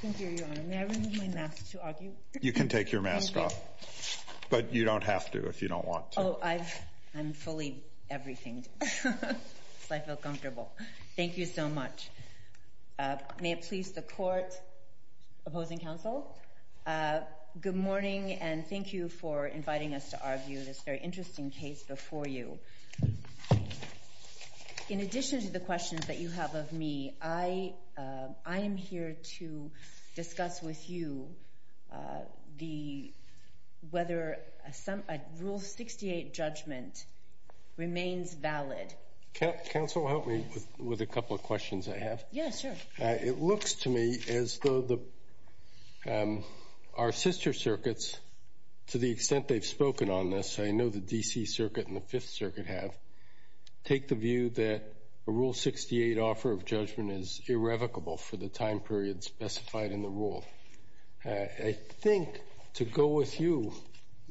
Thank you, Your Honor. May I remove my mask to argue? You can take your mask off, but you don't have to if you don't want to. Oh, I'm fully everything'd, so I feel comfortable. Thank you so much. May it please the Court opposing counsel, good morning and thank you for inviting us to argue this very interesting case before you. In addition to the questions that you have of me, I am here to discuss with you whether a Rule 68 judgment remains valid. Counsel, help me with a couple of questions I have. Yeah, sure. It looks to me as though our sister circuits, to the extent they've spoken on this, I believe that the Circuit and the Fifth Circuit have, take the view that a Rule 68 offer of judgment is irrevocable for the time period specified in the rule. I think to go with you,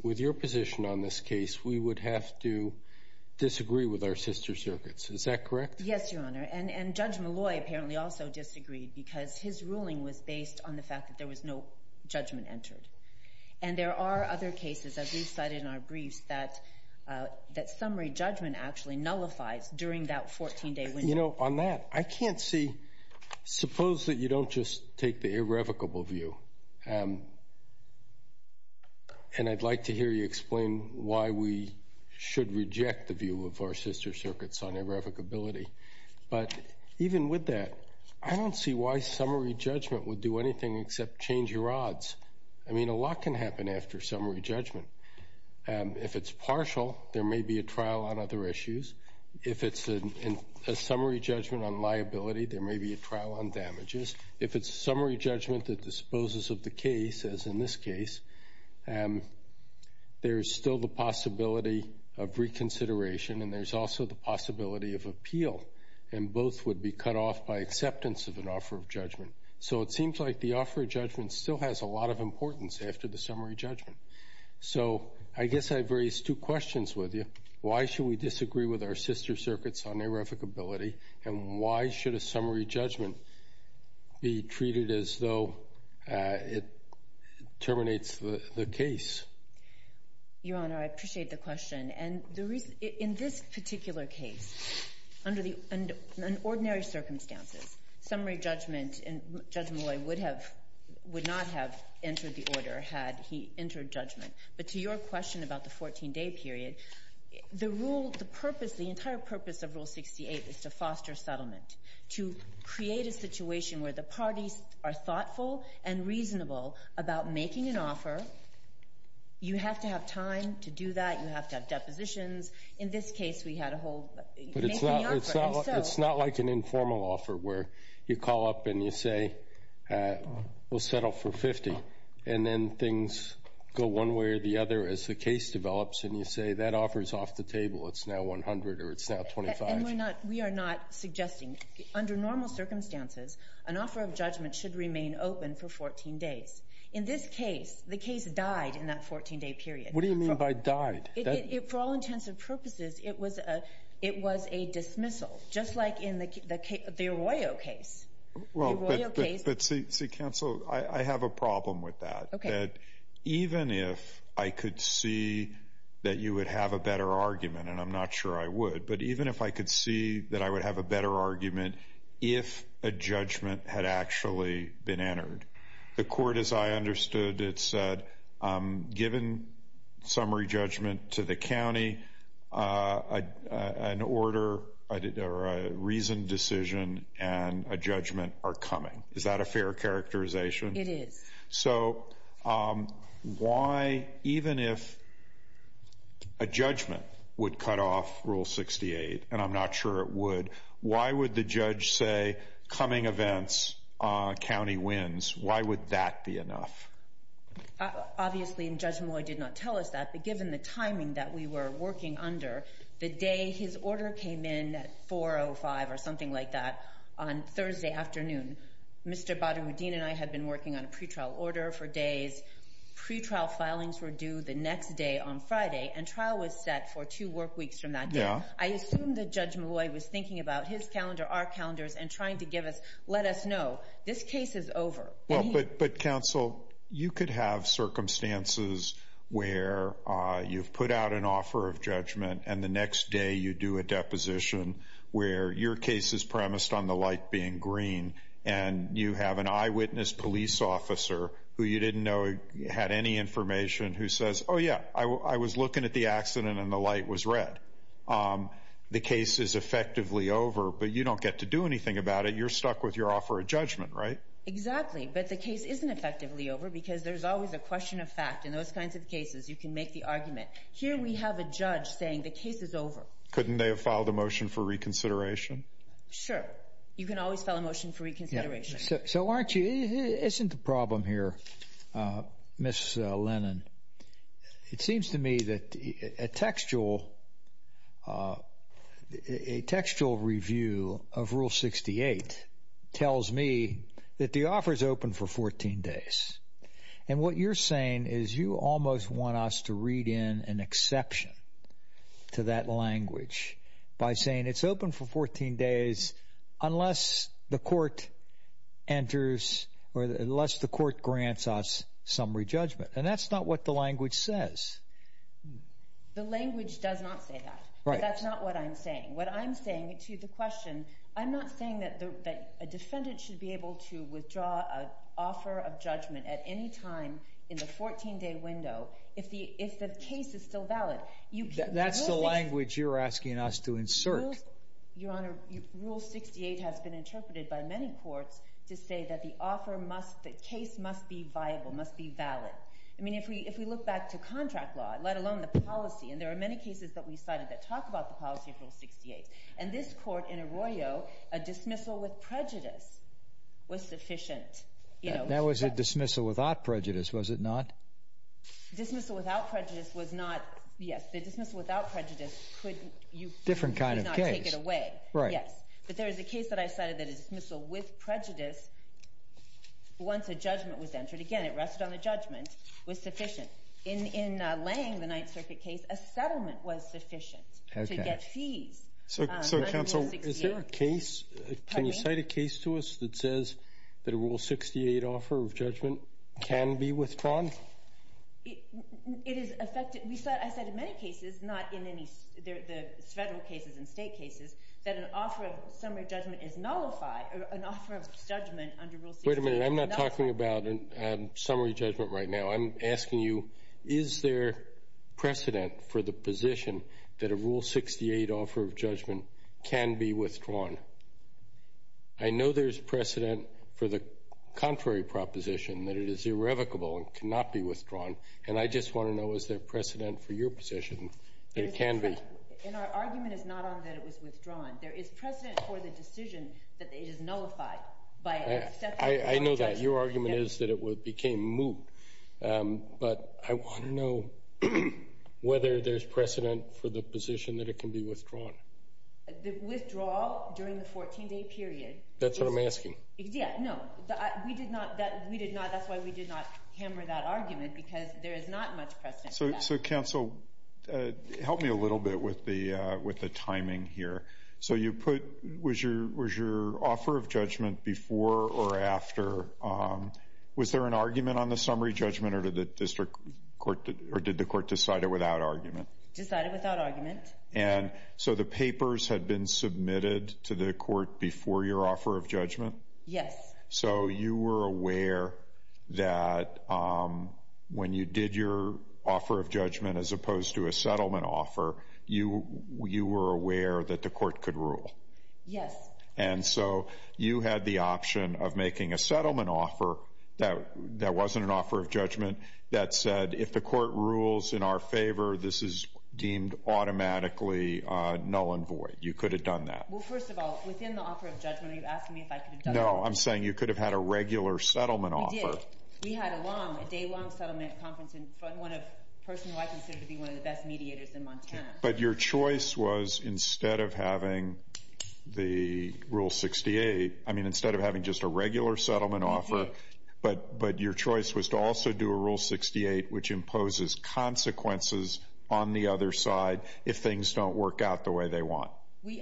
with your position on this case, we would have to disagree with our sister circuits. Is that correct? Yes, Your Honor. And Judge Malloy apparently also disagreed because his ruling was based on the fact that there was no judgment entered. And there are other cases, as we've cited in our briefs, that summary judgment actually nullifies during that 14-day window. You know, on that, I can't see, suppose that you don't just take the irrevocable view, and I'd like to hear you explain why we should reject the view of our sister circuits on irrevocability. But even with that, I don't see why summary judgment would do anything except change your odds. I mean, a lot can happen after summary judgment. If it's partial, there may be a trial on other issues. If it's a summary judgment on liability, there may be a trial on damages. If it's a summary judgment that disposes of the case, as in this case, there's still the possibility of reconsideration, and there's also the possibility of appeal. And both would be cut off by acceptance of an offer of judgment. So it seems like the offer of judgment still has a lot of importance after the summary judgment. So I guess I've raised two questions with you. Why should we disagree with our sister circuits on irrevocability, and why should a summary judgment be treated as though it terminates the case? Your Honor, I appreciate the question. And in this particular case, under ordinary circumstances, summary judgment in Judge Malloy would have — would not have entered the order had he entered judgment. But to your question about the 14-day period, the rule — the purpose, the entire purpose of Rule 68 is to foster settlement, to create a situation where the parties are thoughtful and reasonable about making an offer. You have to have time to do that. You have to have depositions. In this case, we had a whole — But it's not like an informal offer where you call up and you say, we'll settle for 50, and then things go one way or the other as the case develops, and you say, that offer's off the table. It's now 100, or it's now 25. And we're not — we are not suggesting — under normal circumstances, an offer of judgment should remain open for 14 days. In this case, the case died in that 14-day period. What do you mean by died? For all intents and purposes, it was a dismissal, just like in the Arroyo case. Well, but see, Counsel, I have a problem with that. Okay. That even if I could see that you would have a better argument, and I'm not sure I would, but even if I could see that I would have a better argument if a judgment had actually been entered, the court, as I understood it, said, given summary judgment to the county, an order — or a reasoned decision and a judgment are coming. Is that a fair characterization? It is. So why — even if a judgment would cut off Rule 68, and I'm not sure it would, why would the judge say, coming events, county wins? Why would that be enough? Obviously, and Judge Molloy did not tell us that, but given the timing that we were working under, the day his order came in at 4.05 or something like that, on Thursday afternoon, Mr. Badroudin and I had been working on a pretrial order for days. Pretrial filings were due the next day on Friday, and trial was set for two work weeks from that day. Yeah. I assumed that Judge Molloy was thinking about his calendar, our calendars, and trying to give us — let us know, this case is over. Well, but counsel, you could have circumstances where you've put out an offer of judgment, and the next day you do a deposition where your case is premised on the light being green, and you have an eyewitness police officer who you didn't know had any information who says, oh yeah, I was looking at the accident and the light was red. The case is effectively over, but you don't get to do anything about it. You're stuck with your offer of judgment, right? Exactly, but the case isn't effectively over because there's always a question of fact. In those kinds of cases, you can make the argument. Here we have a judge saying the case is over. Couldn't they have filed a motion for reconsideration? Sure. You can always file a motion for reconsideration. So, aren't you — isn't the problem here, Ms. Lennon, it seems to me that a textual review of Rule 68 tells me that the offer is open for 14 days, and what you're saying is you almost want us to read in an exception to that language by saying it's open for 14 days unless the court grants us summary judgment, and that's not what the language says. The language does not say that, but that's not what I'm saying. What I'm saying to the question, I'm not saying that a defendant should be able to withdraw an offer of judgment at any time in the 14-day window if the case is still valid. That's the language you're asking us to insert. Your Honor, Rule 68 has been interpreted by many courts to say that the offer must — the case must be viable, must be valid. I mean, if we look back to contract law, let alone the policy, and there are many cases that we cited that talk about the policy of Rule 68, and this court in Arroyo, a dismissal with prejudice was sufficient. That was a dismissal without prejudice, was it not? Dismissal without prejudice was not — yes, the dismissal without prejudice could — Different kind of case. — not take it away, yes. But there is a case that I cited that a dismissal with prejudice, once a judgment was entered, again, it rested on the judgment, was sufficient. In Lange, the Ninth Circuit case, a settlement was sufficient to get fees under Rule 68. So, Counsel, is there a case — can you cite a case to us that says that a Rule 68 offer of judgment can be withdrawn? It is affected — I said in many cases, not in any — the Federal cases and State cases, that an offer of summary judgment is nullified — an offer of judgment under Rule 68 is nullified. Wait a minute. I'm not talking about summary judgment right now. I'm asking you, is there precedent for the position that a Rule 68 offer of judgment can be withdrawn? I know there's precedent for the contrary proposition, that it is irrevocable and cannot be withdrawn, and I just want to know, is there precedent for your position that it can be — There's precedent — and our argument is not on that it was withdrawn. There is precedent for the decision that it is nullified by an exception — I know that. Your argument is that it became moot. But I want to know whether there's precedent for the position that it can be withdrawn. The withdrawal during the 14-day period — That's what I'm asking. Yeah, no. We did not — that's why we did not hammer that argument, because there is not much precedent for that. So, counsel, help me a little bit with the timing here. So you put — was your offer of judgment before or after — was there an argument on the summary judgment, or did the district court — or did the court decide it without argument? Decided without argument. And so the papers had been submitted to the court before your offer of judgment? Yes. So you were aware that when you did your offer of judgment as opposed to a settlement offer, you were aware that the court could rule? Yes. And so you had the option of making a settlement offer that wasn't an offer of judgment that said, if the court rules in our favor, this is deemed automatically null and void. You could have done that. Well, first of all, within the offer of judgment, are you asking me if I could have done that? No, I'm saying you could have had a regular settlement offer. We did. We had a long — a day-long settlement conference in front of one of — a person who I consider to be one of the best mediators in Montana. But your choice was, instead of having the Rule 68 — I mean, instead of having just a regular settlement offer, to have a settlement offer that actually imposes consequences on the other side if things don't work out the way they want? We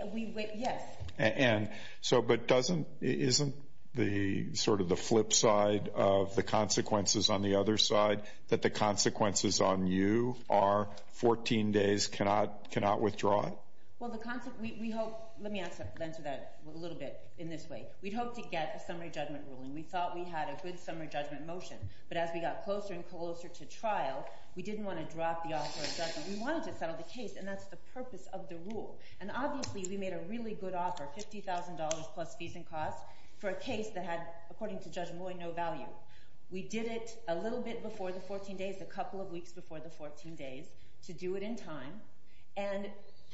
— yes. And so — but doesn't — isn't the — sort of the flip side of the consequences on the other side that the consequences on you are 14 days, cannot withdraw it? Well, the — we hope — let me answer that a little bit in this way. We'd hope to get a summary judgment ruling. We thought we had a good summary judgment motion. But as we got closer and we didn't want to drop the offer of judgment, we wanted to settle the case. And that's the purpose of the rule. And obviously, we made a really good offer — $50,000 plus fees and costs — for a case that had, according to Judge Moy, no value. We did it a little bit before the 14 days, a couple of weeks before the 14 days, to do it in time. And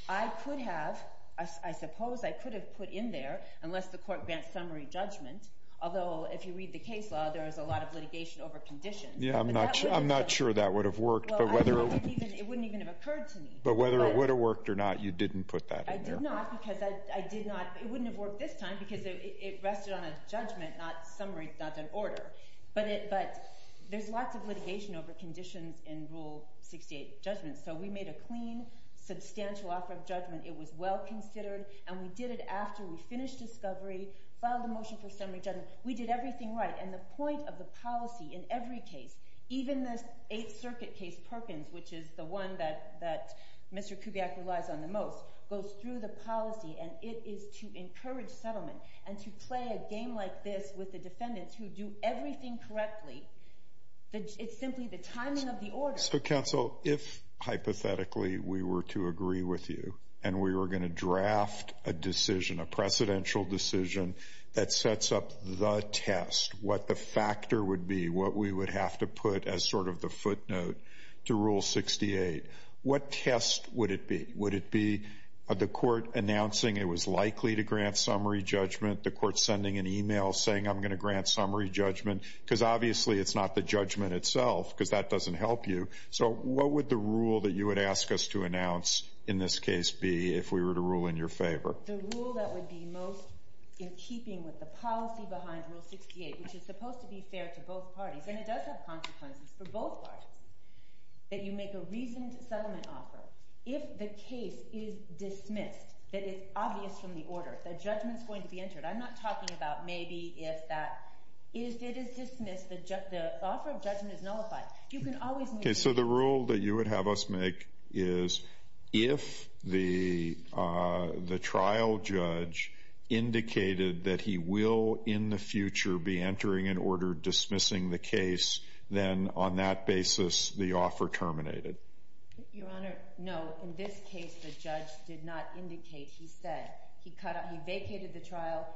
I could have — I suppose I could have put in there, unless the court grants summary judgment — although, if you read the case law, there is a lot of litigation over conditions. Yeah, I'm not — I'm not sure that would have worked. But whether — Well, I don't even — it wouldn't even have occurred to me. But whether it would have worked or not, you didn't put that in there. I did not, because I — I did not — it wouldn't have worked this time, because it rested on a judgment, not summary — not an order. But it — but there's lots of litigation over conditions in Rule 68 judgments. So we made a clean, substantial offer of judgment. It was well considered. And we did it after we finished discovery, filed a motion for summary judgment. We did everything right. And the point of the policy in every case, even this Eighth Circuit case, Perkins, which is the one that Mr. Kubiak relies on the most, goes through the policy, and it is to encourage settlement and to play a game like this with the defendants who do everything correctly. It's simply the timing of the order. So, counsel, if, hypothetically, we were to agree with you, and we were going to draft a decision, a precedential decision, that sets up the test, what the factor would be, what we would have to put as sort of the footnote to Rule 68, what test would it be? Would it be the court announcing it was likely to grant summary judgment, the court sending an email saying, I'm going to grant summary judgment? Because, obviously, it's not the judgment itself, because that doesn't help you. So what would the rule that you would ask us to announce in this case be if we were to rule in your favor? The rule that would be most in keeping with the policy behind Rule 68, which is supposed to be fair to both parties, and it does have consequences for both parties, that you make a reasoned settlement offer. If the case is dismissed, that it's obvious from the order, that judgment's going to be entered, I'm not talking about maybe if that... If it is dismissed, the offer of judgment is nullified. You can always... So the rule that you would have us make is, if the trial judge indicated that he will, in the future, be entering an order dismissing the case, then on that basis, the offer terminated. Your Honor, no. In this case, the judge did not indicate. He said, he vacated the trial,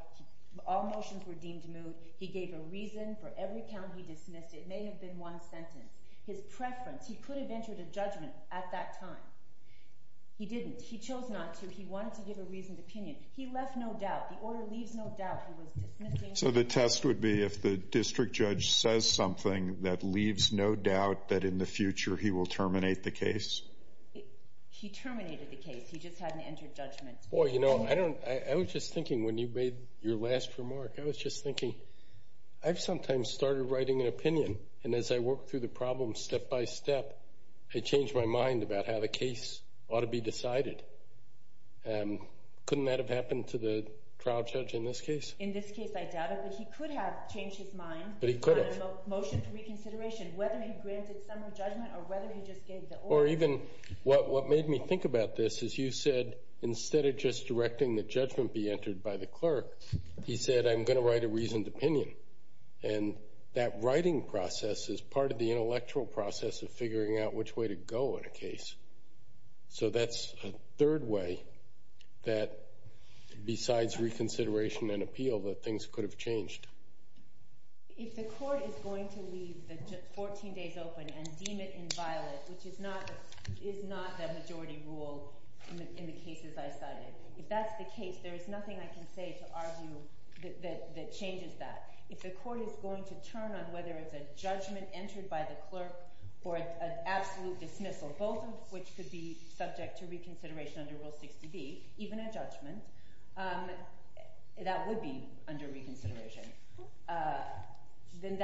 all motions were deemed moot. He gave a reason for every count he dismissed. It may have been one sentence. His preference, he could have entered a judgment at that time. He didn't. He chose not to. He wanted to give a reasoned opinion. He left no doubt. The order leaves no doubt. He was dismissing... So the test would be if the district judge says something that leaves no doubt that in the future, he will terminate the case? He terminated the case. He just hadn't entered judgment. Well, you know, I don't... I was just thinking when you made your last remark, I was just rewriting an opinion. And as I worked through the problem step by step, I changed my mind about how the case ought to be decided. Couldn't that have happened to the trial judge in this case? In this case, I doubt it. But he could have changed his mind... But he could have. ...on a motion for reconsideration, whether he granted some judgment or whether he just gave the order. Or even, what made me think about this is you said, instead of just directing the judgment be entered by the clerk, he said, I'm going to write a reasoned opinion. And that writing process is part of the intellectual process of figuring out which way to go in a case. So that's a third way that, besides reconsideration and appeal, that things could have changed. If the court is going to leave the 14 days open and deem it inviolate, which is not the majority rule in the cases I cited, if that's the case, there is nothing I can say to argue that changes that. If the court is going to turn on whether it's a judgment entered by the clerk or an absolute dismissal, both of which could be subject to reconsideration under Rule 60B, even a judgment, that would be under reconsideration. Then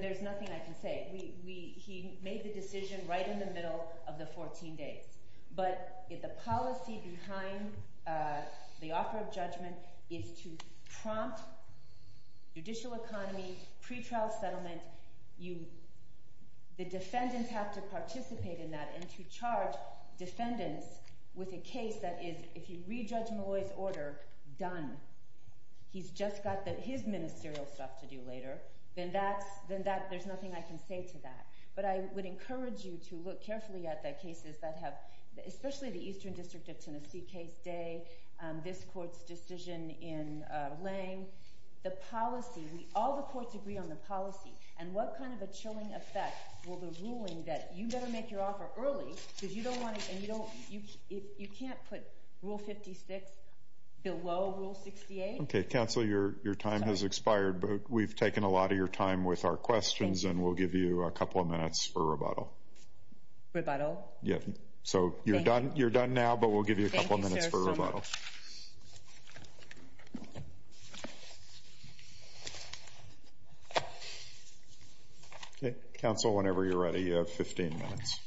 there's nothing I can say. He made the decision right in the middle of the 14 days. But the policy behind the offer of judgment is to prompt judicial economy, pretrial settlement. The defendants have to participate in that and to charge defendants with a case that is, if you re-judge Malloy's order, done. He's just got his ministerial stuff to do later. Then there's nothing I can say to that. But I would encourage you to look carefully at the cases that have, especially the Eastern District of Tennessee case day, this court's decision in Lange, the policy, all the courts agree on the policy, and what kind of a chilling effect will the ruling that you better make your offer early, because you don't want to, you can't put Rule 56 below Rule 68. Okay, Counselor, your time has expired, but we've taken a lot of your time with our questions and we'll give you a couple of minutes for rebuttal. Rebuttal? Yep. So you're done now, but we'll give you a couple of minutes for rebuttal. Okay, Counsel, whenever you're ready, you have 15 minutes.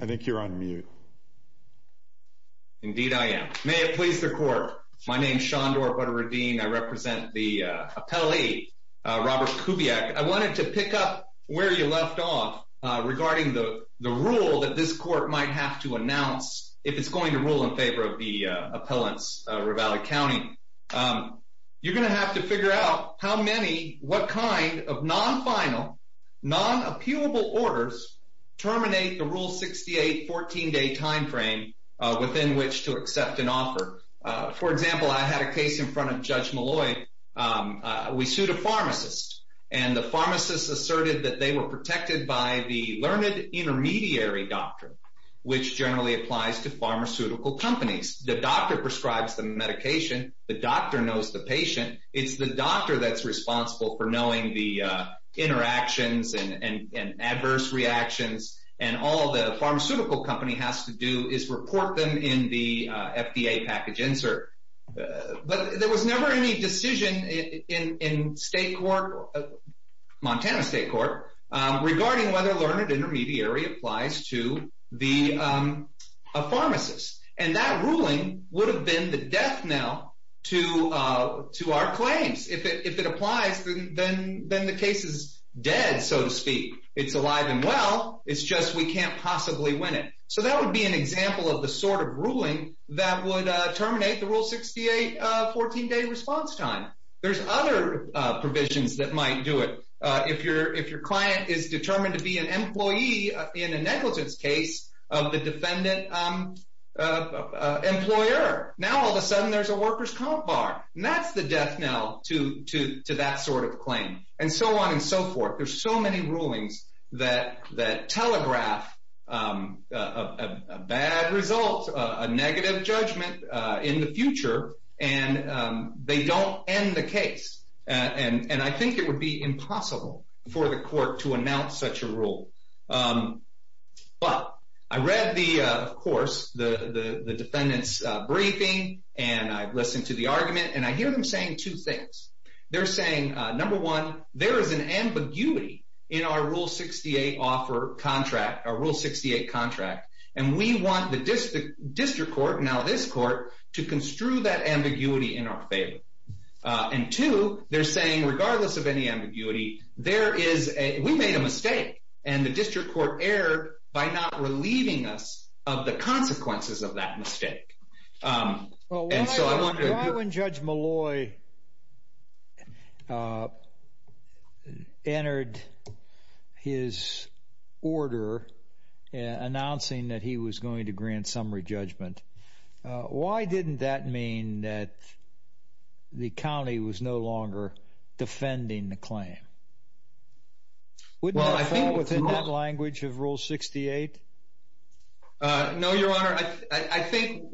I think you're on mute. Indeed, I am. May it please the Court, my name's Shondor Butteredine, I represent the appellee, Robert Kubiak. I wanted to pick up where you left off regarding the rule that this court might have to announce if it's going to rule in favor of the appellant's Ravalli County. You're going to have to figure out how many, what kind of non-final, non-appealable orders terminate the Rule 68 14-day time frame within which to accept an offer. For example, I had a We sued a pharmacist, and the pharmacist asserted that they were protected by the learned intermediary doctrine, which generally applies to pharmaceutical companies. The doctor prescribes the medication, the doctor knows the patient, it's the doctor that's responsible for knowing the interactions and adverse reactions, and all the pharmaceutical company has to do is report them in the FDA package insert. But there was never any decision in Montana State Court regarding whether learned intermediary applies to the pharmacist. And that ruling would have been the death knell to our claims. If it applies, then the case is dead, so to speak. It's alive and well, it's just we can't possibly win it. So that would be an example of the sort of ruling that would terminate the Rule 68 14-day response time. There's other provisions that might do it. If your client is determined to be an employee in a negligence case of the defendant employer, now all of a sudden there's a worker's comp bar. And that's the death knell to that sort of claim. And so on and so forth. There's so many rulings that telegraph a bad result, a negative judgment in the future, and they don't end the case. And I think it would be impossible for the court to announce such a rule. But I read the, of course, the defendant's briefing, and I listened to the there is an ambiguity in our Rule 68 contract. And we want the district court, now this court, to construe that ambiguity in our favor. And two, they're saying regardless of any ambiguity, we made a mistake. And the district court erred by not relieving us of the consequences of that entered his order announcing that he was going to grant summary judgment. Why didn't that mean that the county was no longer defending the claim? Wouldn't that fall within that language of Rule 68? No, Your Honor. I think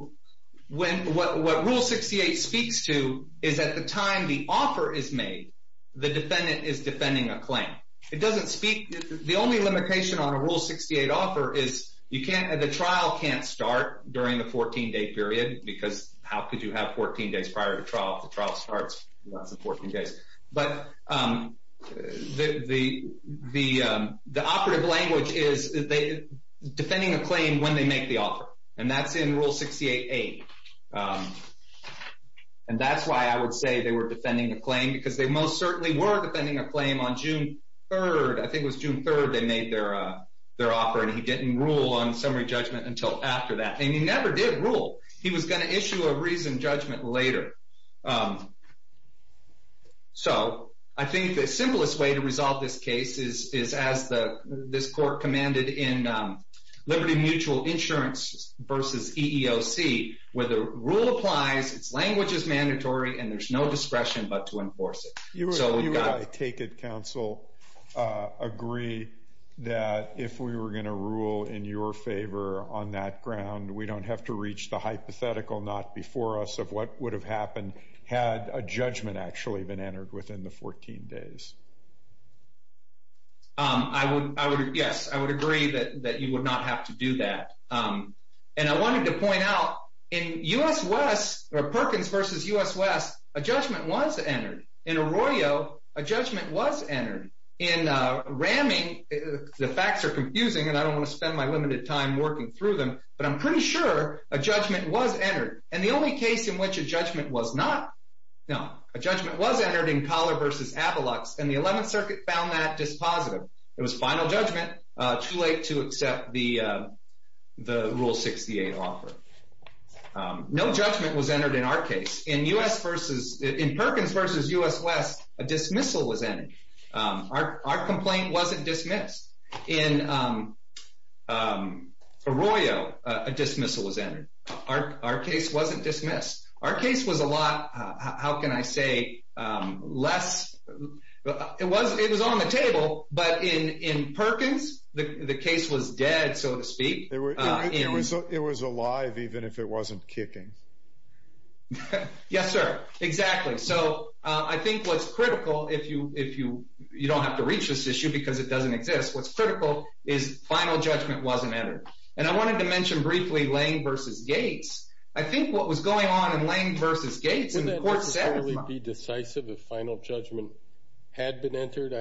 what Rule 68 speaks to is at the time the offer is made, the defendant is defending a claim. It doesn't speak, the only limitation on a Rule 68 offer is you can't, the trial can't start during the 14-day period because how could you have 14 days prior to trial if the trial starts in less than 14 days. But the operative language is defending a claim when they make the offer. And that's in Rule 68a. And that's why I would say they were defending the claim because they most certainly were defending a claim on June 3rd. I think it was June 3rd they made their offer. And he didn't rule on summary judgment until after that. And he never did rule. He was going to issue a reasoned judgment later. So I think the simplest way to resolve this case is as this court commanded in Mutual Insurance v. EEOC, where the rule applies, its language is mandatory, and there's no discretion but to enforce it. You would, I take it, counsel, agree that if we were going to rule in your favor on that ground, we don't have to reach the hypothetical, not before us, of what would have happened had a judgment actually been entered within the 14 days? Yes, I would agree that you would not have to do that. And I wanted to point out, in U.S. West, or Perkins v. U.S. West, a judgment was entered. In Arroyo, a judgment was entered. In Ramming, the facts are confusing, and I don't want to spend my limited time working through them, but I'm pretty sure a judgment was entered. And the only case in which a judgment was not, no, a judgment was entered in Collar v. Avalux, and the 11th Circuit found that dispositive. It was final judgment, too late to accept the Rule 68 offer. No judgment was entered in our case. In Perkins v. U.S. West, a dismissal was entered. Our complaint wasn't dismissed. In Arroyo, a dismissal was entered. Our case wasn't dismissed. Our case was a lot, how can I say, less, it was on the table, but in Perkins, the case was dead, so to speak. It was alive, even if it wasn't kicking. Yes, sir, exactly. So I think what's critical, if you don't have to reach this issue because it doesn't exist, what's critical is final judgment wasn't entered. And I wanted to mention briefly Lange v. Gates. I think what was going on in Lange v. Gates, and the court said— Wouldn't it be decisive if final judgment had been entered?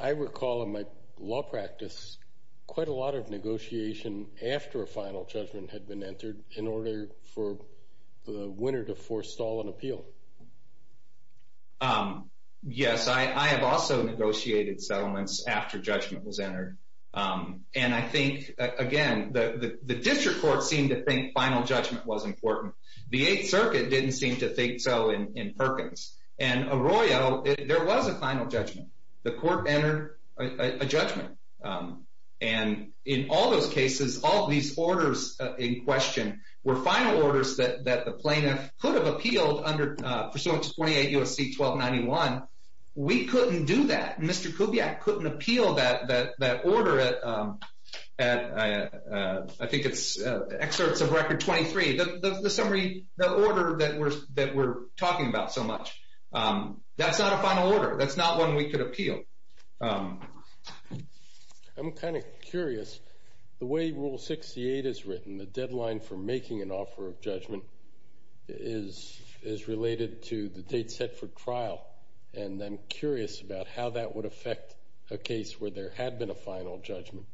I recall in my law practice quite a lot of negotiation after a final judgment had been entered in order for the winner to forestall an appeal. Yes, I have also negotiated settlements after judgment was entered. And I think, again, the district court seemed to think the Eighth Circuit didn't seem to think so in Perkins. And Arroyo, there was a final judgment. The court entered a judgment. And in all those cases, all these orders in question were final orders that the plaintiff could have appealed under pursuant to 28 U.S.C. 1291. We couldn't do that. Mr. Kubiak couldn't appeal that order at, I think it's excerpts of Record 23, the summary, the order that we're talking about so much. That's not a final order. That's not one we could appeal. I'm kind of curious. The way Rule 68 is written, the deadline for making an offer of judgment is related to the date set for trial. And I'm curious about how that would affect a case where there had been a final judgment.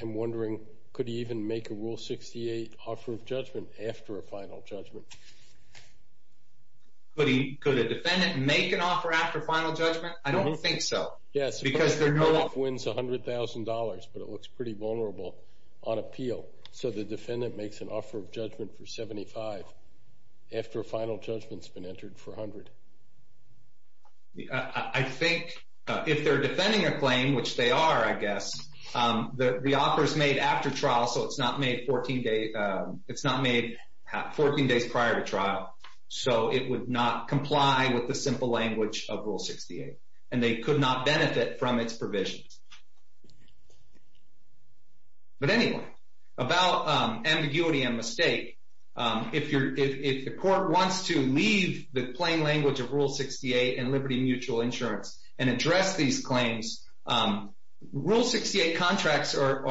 I'm wondering, could he even make a Rule 68 offer of judgment after a final judgment? Could a defendant make an offer after a final judgment? I don't think so. Yes, because the plaintiff wins $100,000, but it looks pretty vulnerable on appeal. So the defendant makes an offer of judgment for $75,000 after a final judgment's been entered for $100,000. I think if they're defending a claim, which they are, I guess, the offer is made after trial, so it's not made 14 days prior to trial. So it would not comply with the simple language of Rule 68. And they could not benefit from its provisions. But anyway, about ambiguity and mistake. If the court wants to leave the plain language of Rule 68 and Liberty Mutual Insurance and address these claims, Rule 68 contracts are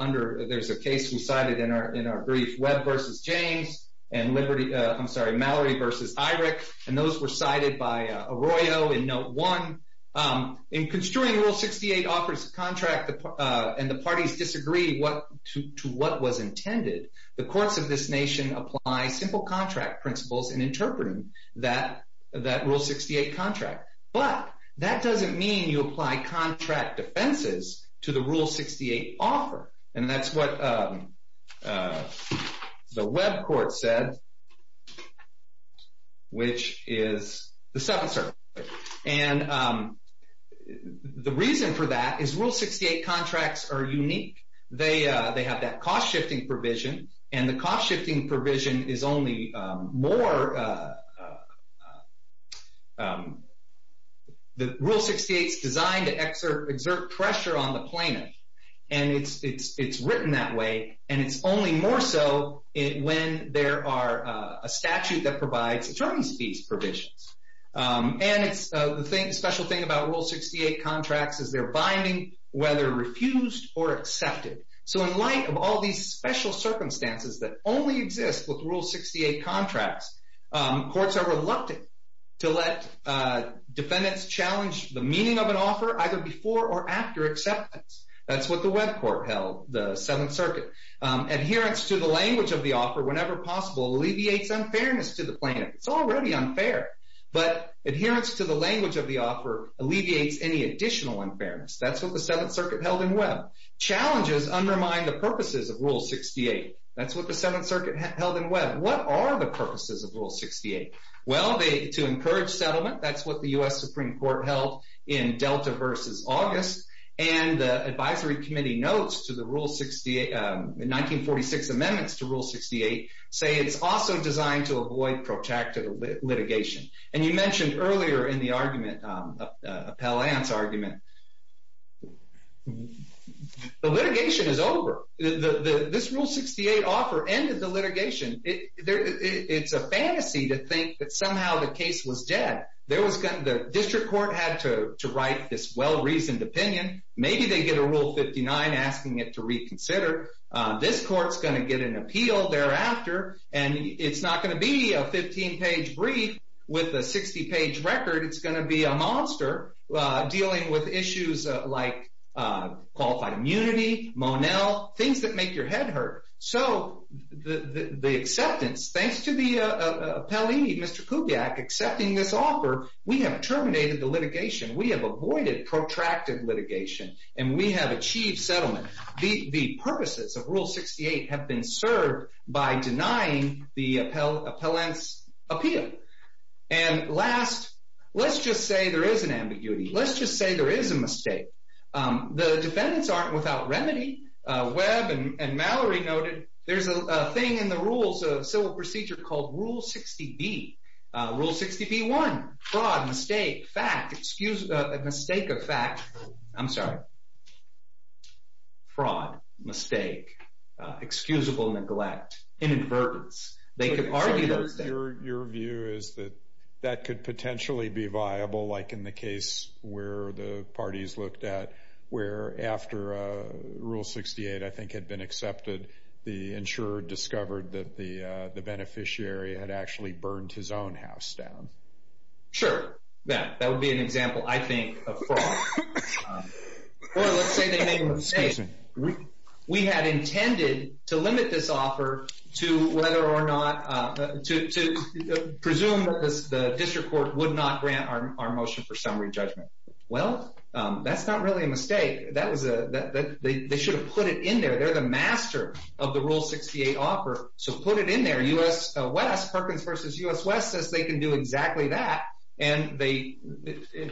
under, there's a case we cited in our brief, Webb v. James and Mallory v. Eirich. And those were cited by Arroyo in Note 1. In construing Rule 68 offers contract and the parties disagree to what was intended, the courts of this nation apply simple contract principles in interpreting that Rule 68 contract. But that doesn't mean you apply contract defenses to the Rule 68 offer. And that's what the Webb court said, which is the Seventh Circuit. And the reason for that is Rule 68 contracts are unique. They have that cost-shifting provision. And the cost-shifting provision is only more, the Rule 68's designed to exert pressure on the plaintiff. And it's written that way, and it's only more so when there are a statute that provides attorney's fees provisions. And the special thing about Rule 68 contracts is they're binding whether refused or accepted. So in light of all these special circumstances that only exist with Rule 68 contracts, courts are reluctant to let defendants challenge the meaning of an offer either before or after acceptance. That's what the Webb court held, the Seventh Circuit. Adherence to the language of the offer whenever possible alleviates unfairness to the plaintiff. It's already unfair. But adherence to the language of the offer alleviates any additional unfairness. That's what the Seventh Circuit held in Webb. Challenges undermine the purposes of Rule 68. That's what the Seventh Circuit held in Webb. What are the purposes of Rule 68? Well, to encourage settlement. That's what the U.S. Supreme Court held in Delta versus August. And the advisory committee notes to the Rule 68, the 1946 amendments to Rule 68, say it's also designed to avoid protracted litigation. And you mentioned earlier in the argument, Appellant's argument, the litigation is over. This Rule 68 offer ended the litigation. It's a fantasy to think that somehow the case was dead. The district court had to write this well-reasoned opinion. Maybe they get a Rule 59 asking it to reconsider. This court's going to get an appeal thereafter. And it's not going to be a 15-page brief with a 60-page record. It's going to be a monster dealing with issues like qualified immunity, Monell, things that make your head hurt. So the acceptance, thanks to the Appellee, Mr. Kubiak, accepting this offer, we have terminated the litigation. We have avoided protracted litigation. And we have achieved settlement. The purposes of Rule 68 have been served by denying the Appellant's appeal. And last, let's just say there is an ambiguity. Let's just say there is a mistake. The defendants aren't without remedy. Webb and Mallory noted there's a thing in the rules of civil procedure called Rule 60B. Rule 60B1, fraud, mistake, fact, excuse, mistake of fact. I'm sorry. Fraud, mistake, excusable neglect, inadvertence. They could argue those things. Your view is that that could potentially be viable, like in the case where the parties looked at, where after Rule 68, I think, had been accepted, the insurer discovered that the beneficiary had actually burned his own house down. Sure. Yeah, that would be an example, I think, of fraud. Or let's say they made a mistake. We had intended to limit this offer to whether or not, to presume that the district court would not grant our motion for summary judgment. Well, that's not really a mistake. They should have put it in there. They're the master of the Rule 68 offer, so put it in there. U.S. West, Perkins v. U.S. West, says they can do exactly that. And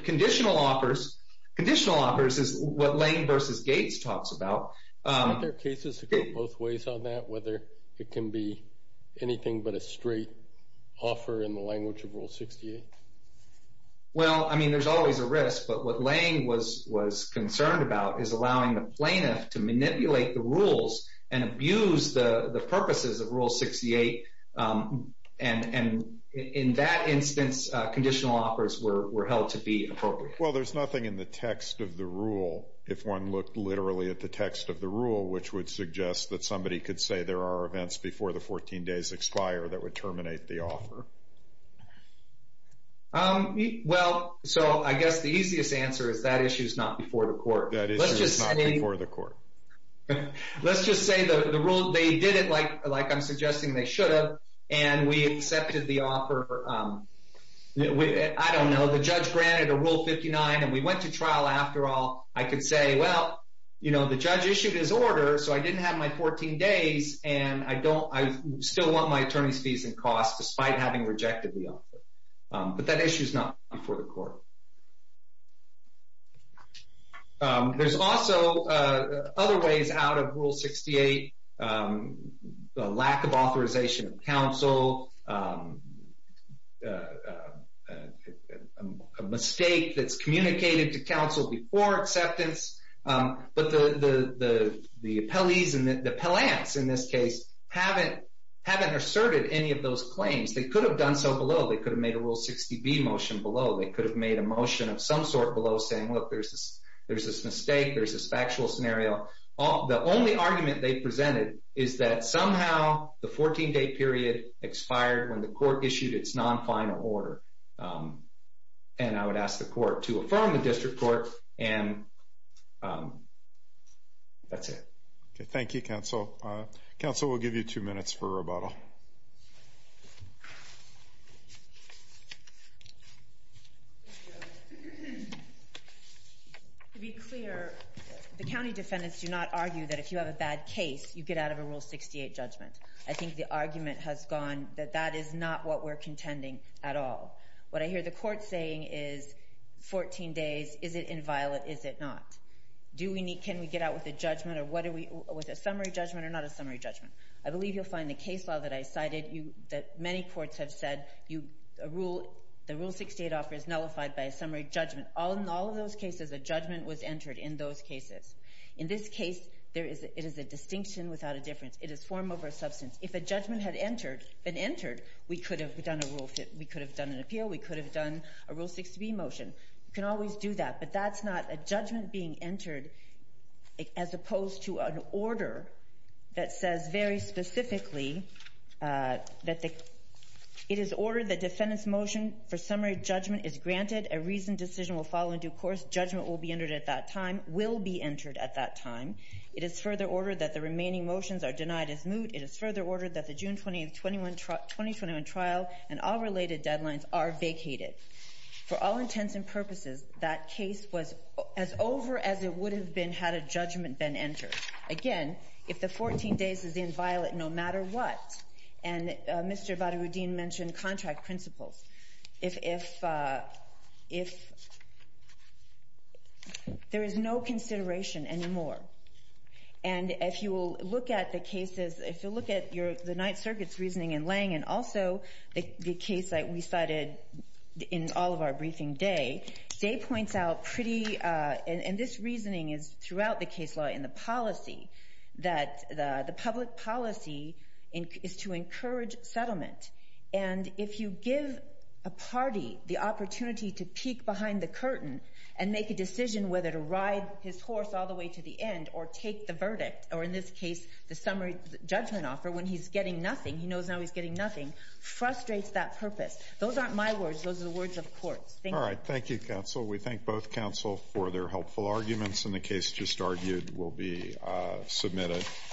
conditional offers, conditional offers is what Lane v. Gates talks about. Aren't there cases that go both ways on that, whether it can be anything but a straight offer in the language of Rule 68? Well, I mean, there's always a risk, but what Lane was concerned about is allowing the plaintiff to manipulate the rules and abuse the purposes of Rule 68. And in that instance, conditional offers were held to be appropriate. Well, there's nothing in the text of the rule, if one looked literally at the text of the rule, which would suggest that somebody could say there are events before the 14 days expire that would terminate the offer. Well, so I guess the easiest answer is that issue is not before the court. That issue is not before the court. Let's just say the rule, they did it like I'm suggesting they should have, and we accepted the offer. I don't know, the judge granted a Rule 59, and we went to trial after all. I could say, well, you know, the judge issued his order, so I didn't have my 14 days, and I still want my attorney's fees and costs despite having rejected the offer. But that issue is not before the court. There's also other ways out of Rule 68, the lack of authorization of counsel, a mistake that's communicated to counsel before acceptance. But the appellees and the appellants in this case haven't asserted any of those claims. They could have done so below. They could have made a Rule 60B motion below. They could have made a motion of some sort below saying, look, there's this mistake, there's this factual scenario. The only argument they presented is that somehow the 14-day period expired when the court issued its non-final order. And I would ask the court to affirm the district court, and that's it. Okay. Thank you, counsel. Counsel, we'll give you two minutes for rebuttal. To be clear, the county defendants do not argue that if you have a bad case, you get out of a Rule 68 judgment. I think the argument has gone that that is not what we're contending at all. What I hear the court saying is 14 days, is it inviolate, is it not? Can we get out with a summary judgment or not a summary judgment? I believe you'll find the case law that I cited that many courts have said the Rule 68 offer is nullified by a summary judgment. In all of those cases, a judgment was entered in those cases. In this case, there is a distinction without a difference. It is form over substance. If a judgment had entered, been entered, we could have done a rule fit, we could have done an appeal, we could have done a Rule 60B motion. You can always do that, but that's not a judgment being entered as opposed to an order that says very specifically that it is ordered the defendant's summary judgment is granted, a reasoned decision will follow in due course, judgment will be entered at that time, will be entered at that time. It is further ordered that the remaining motions are denied as moot. It is further ordered that the June 20, 2021 trial and all related deadlines are vacated. For all intents and purposes, that case was as over as it would have been had a judgment been entered. Again, if the 14 days is inviolate, no matter what, and Mr. Vadavuddin mentioned contract principles, if there is no consideration anymore, and if you will look at the cases, if you look at the Ninth Circuit's reasoning in Lange and also the case that we cited in all of our briefing, Day, Day points out pretty, and this reasoning is throughout the case law and the policy, that the public policy is to encourage settlement. If you give a party the opportunity to peek behind the curtain and make a decision whether to ride his horse all the way to the end or take the verdict, or in this case, the summary judgment offer when he's getting nothing, he knows now he's getting nothing, frustrates that purpose. Those aren't my words. Those are the words of courts. Thank you. We thank both counsel for their helpful arguments, and the case just argued will be submitted.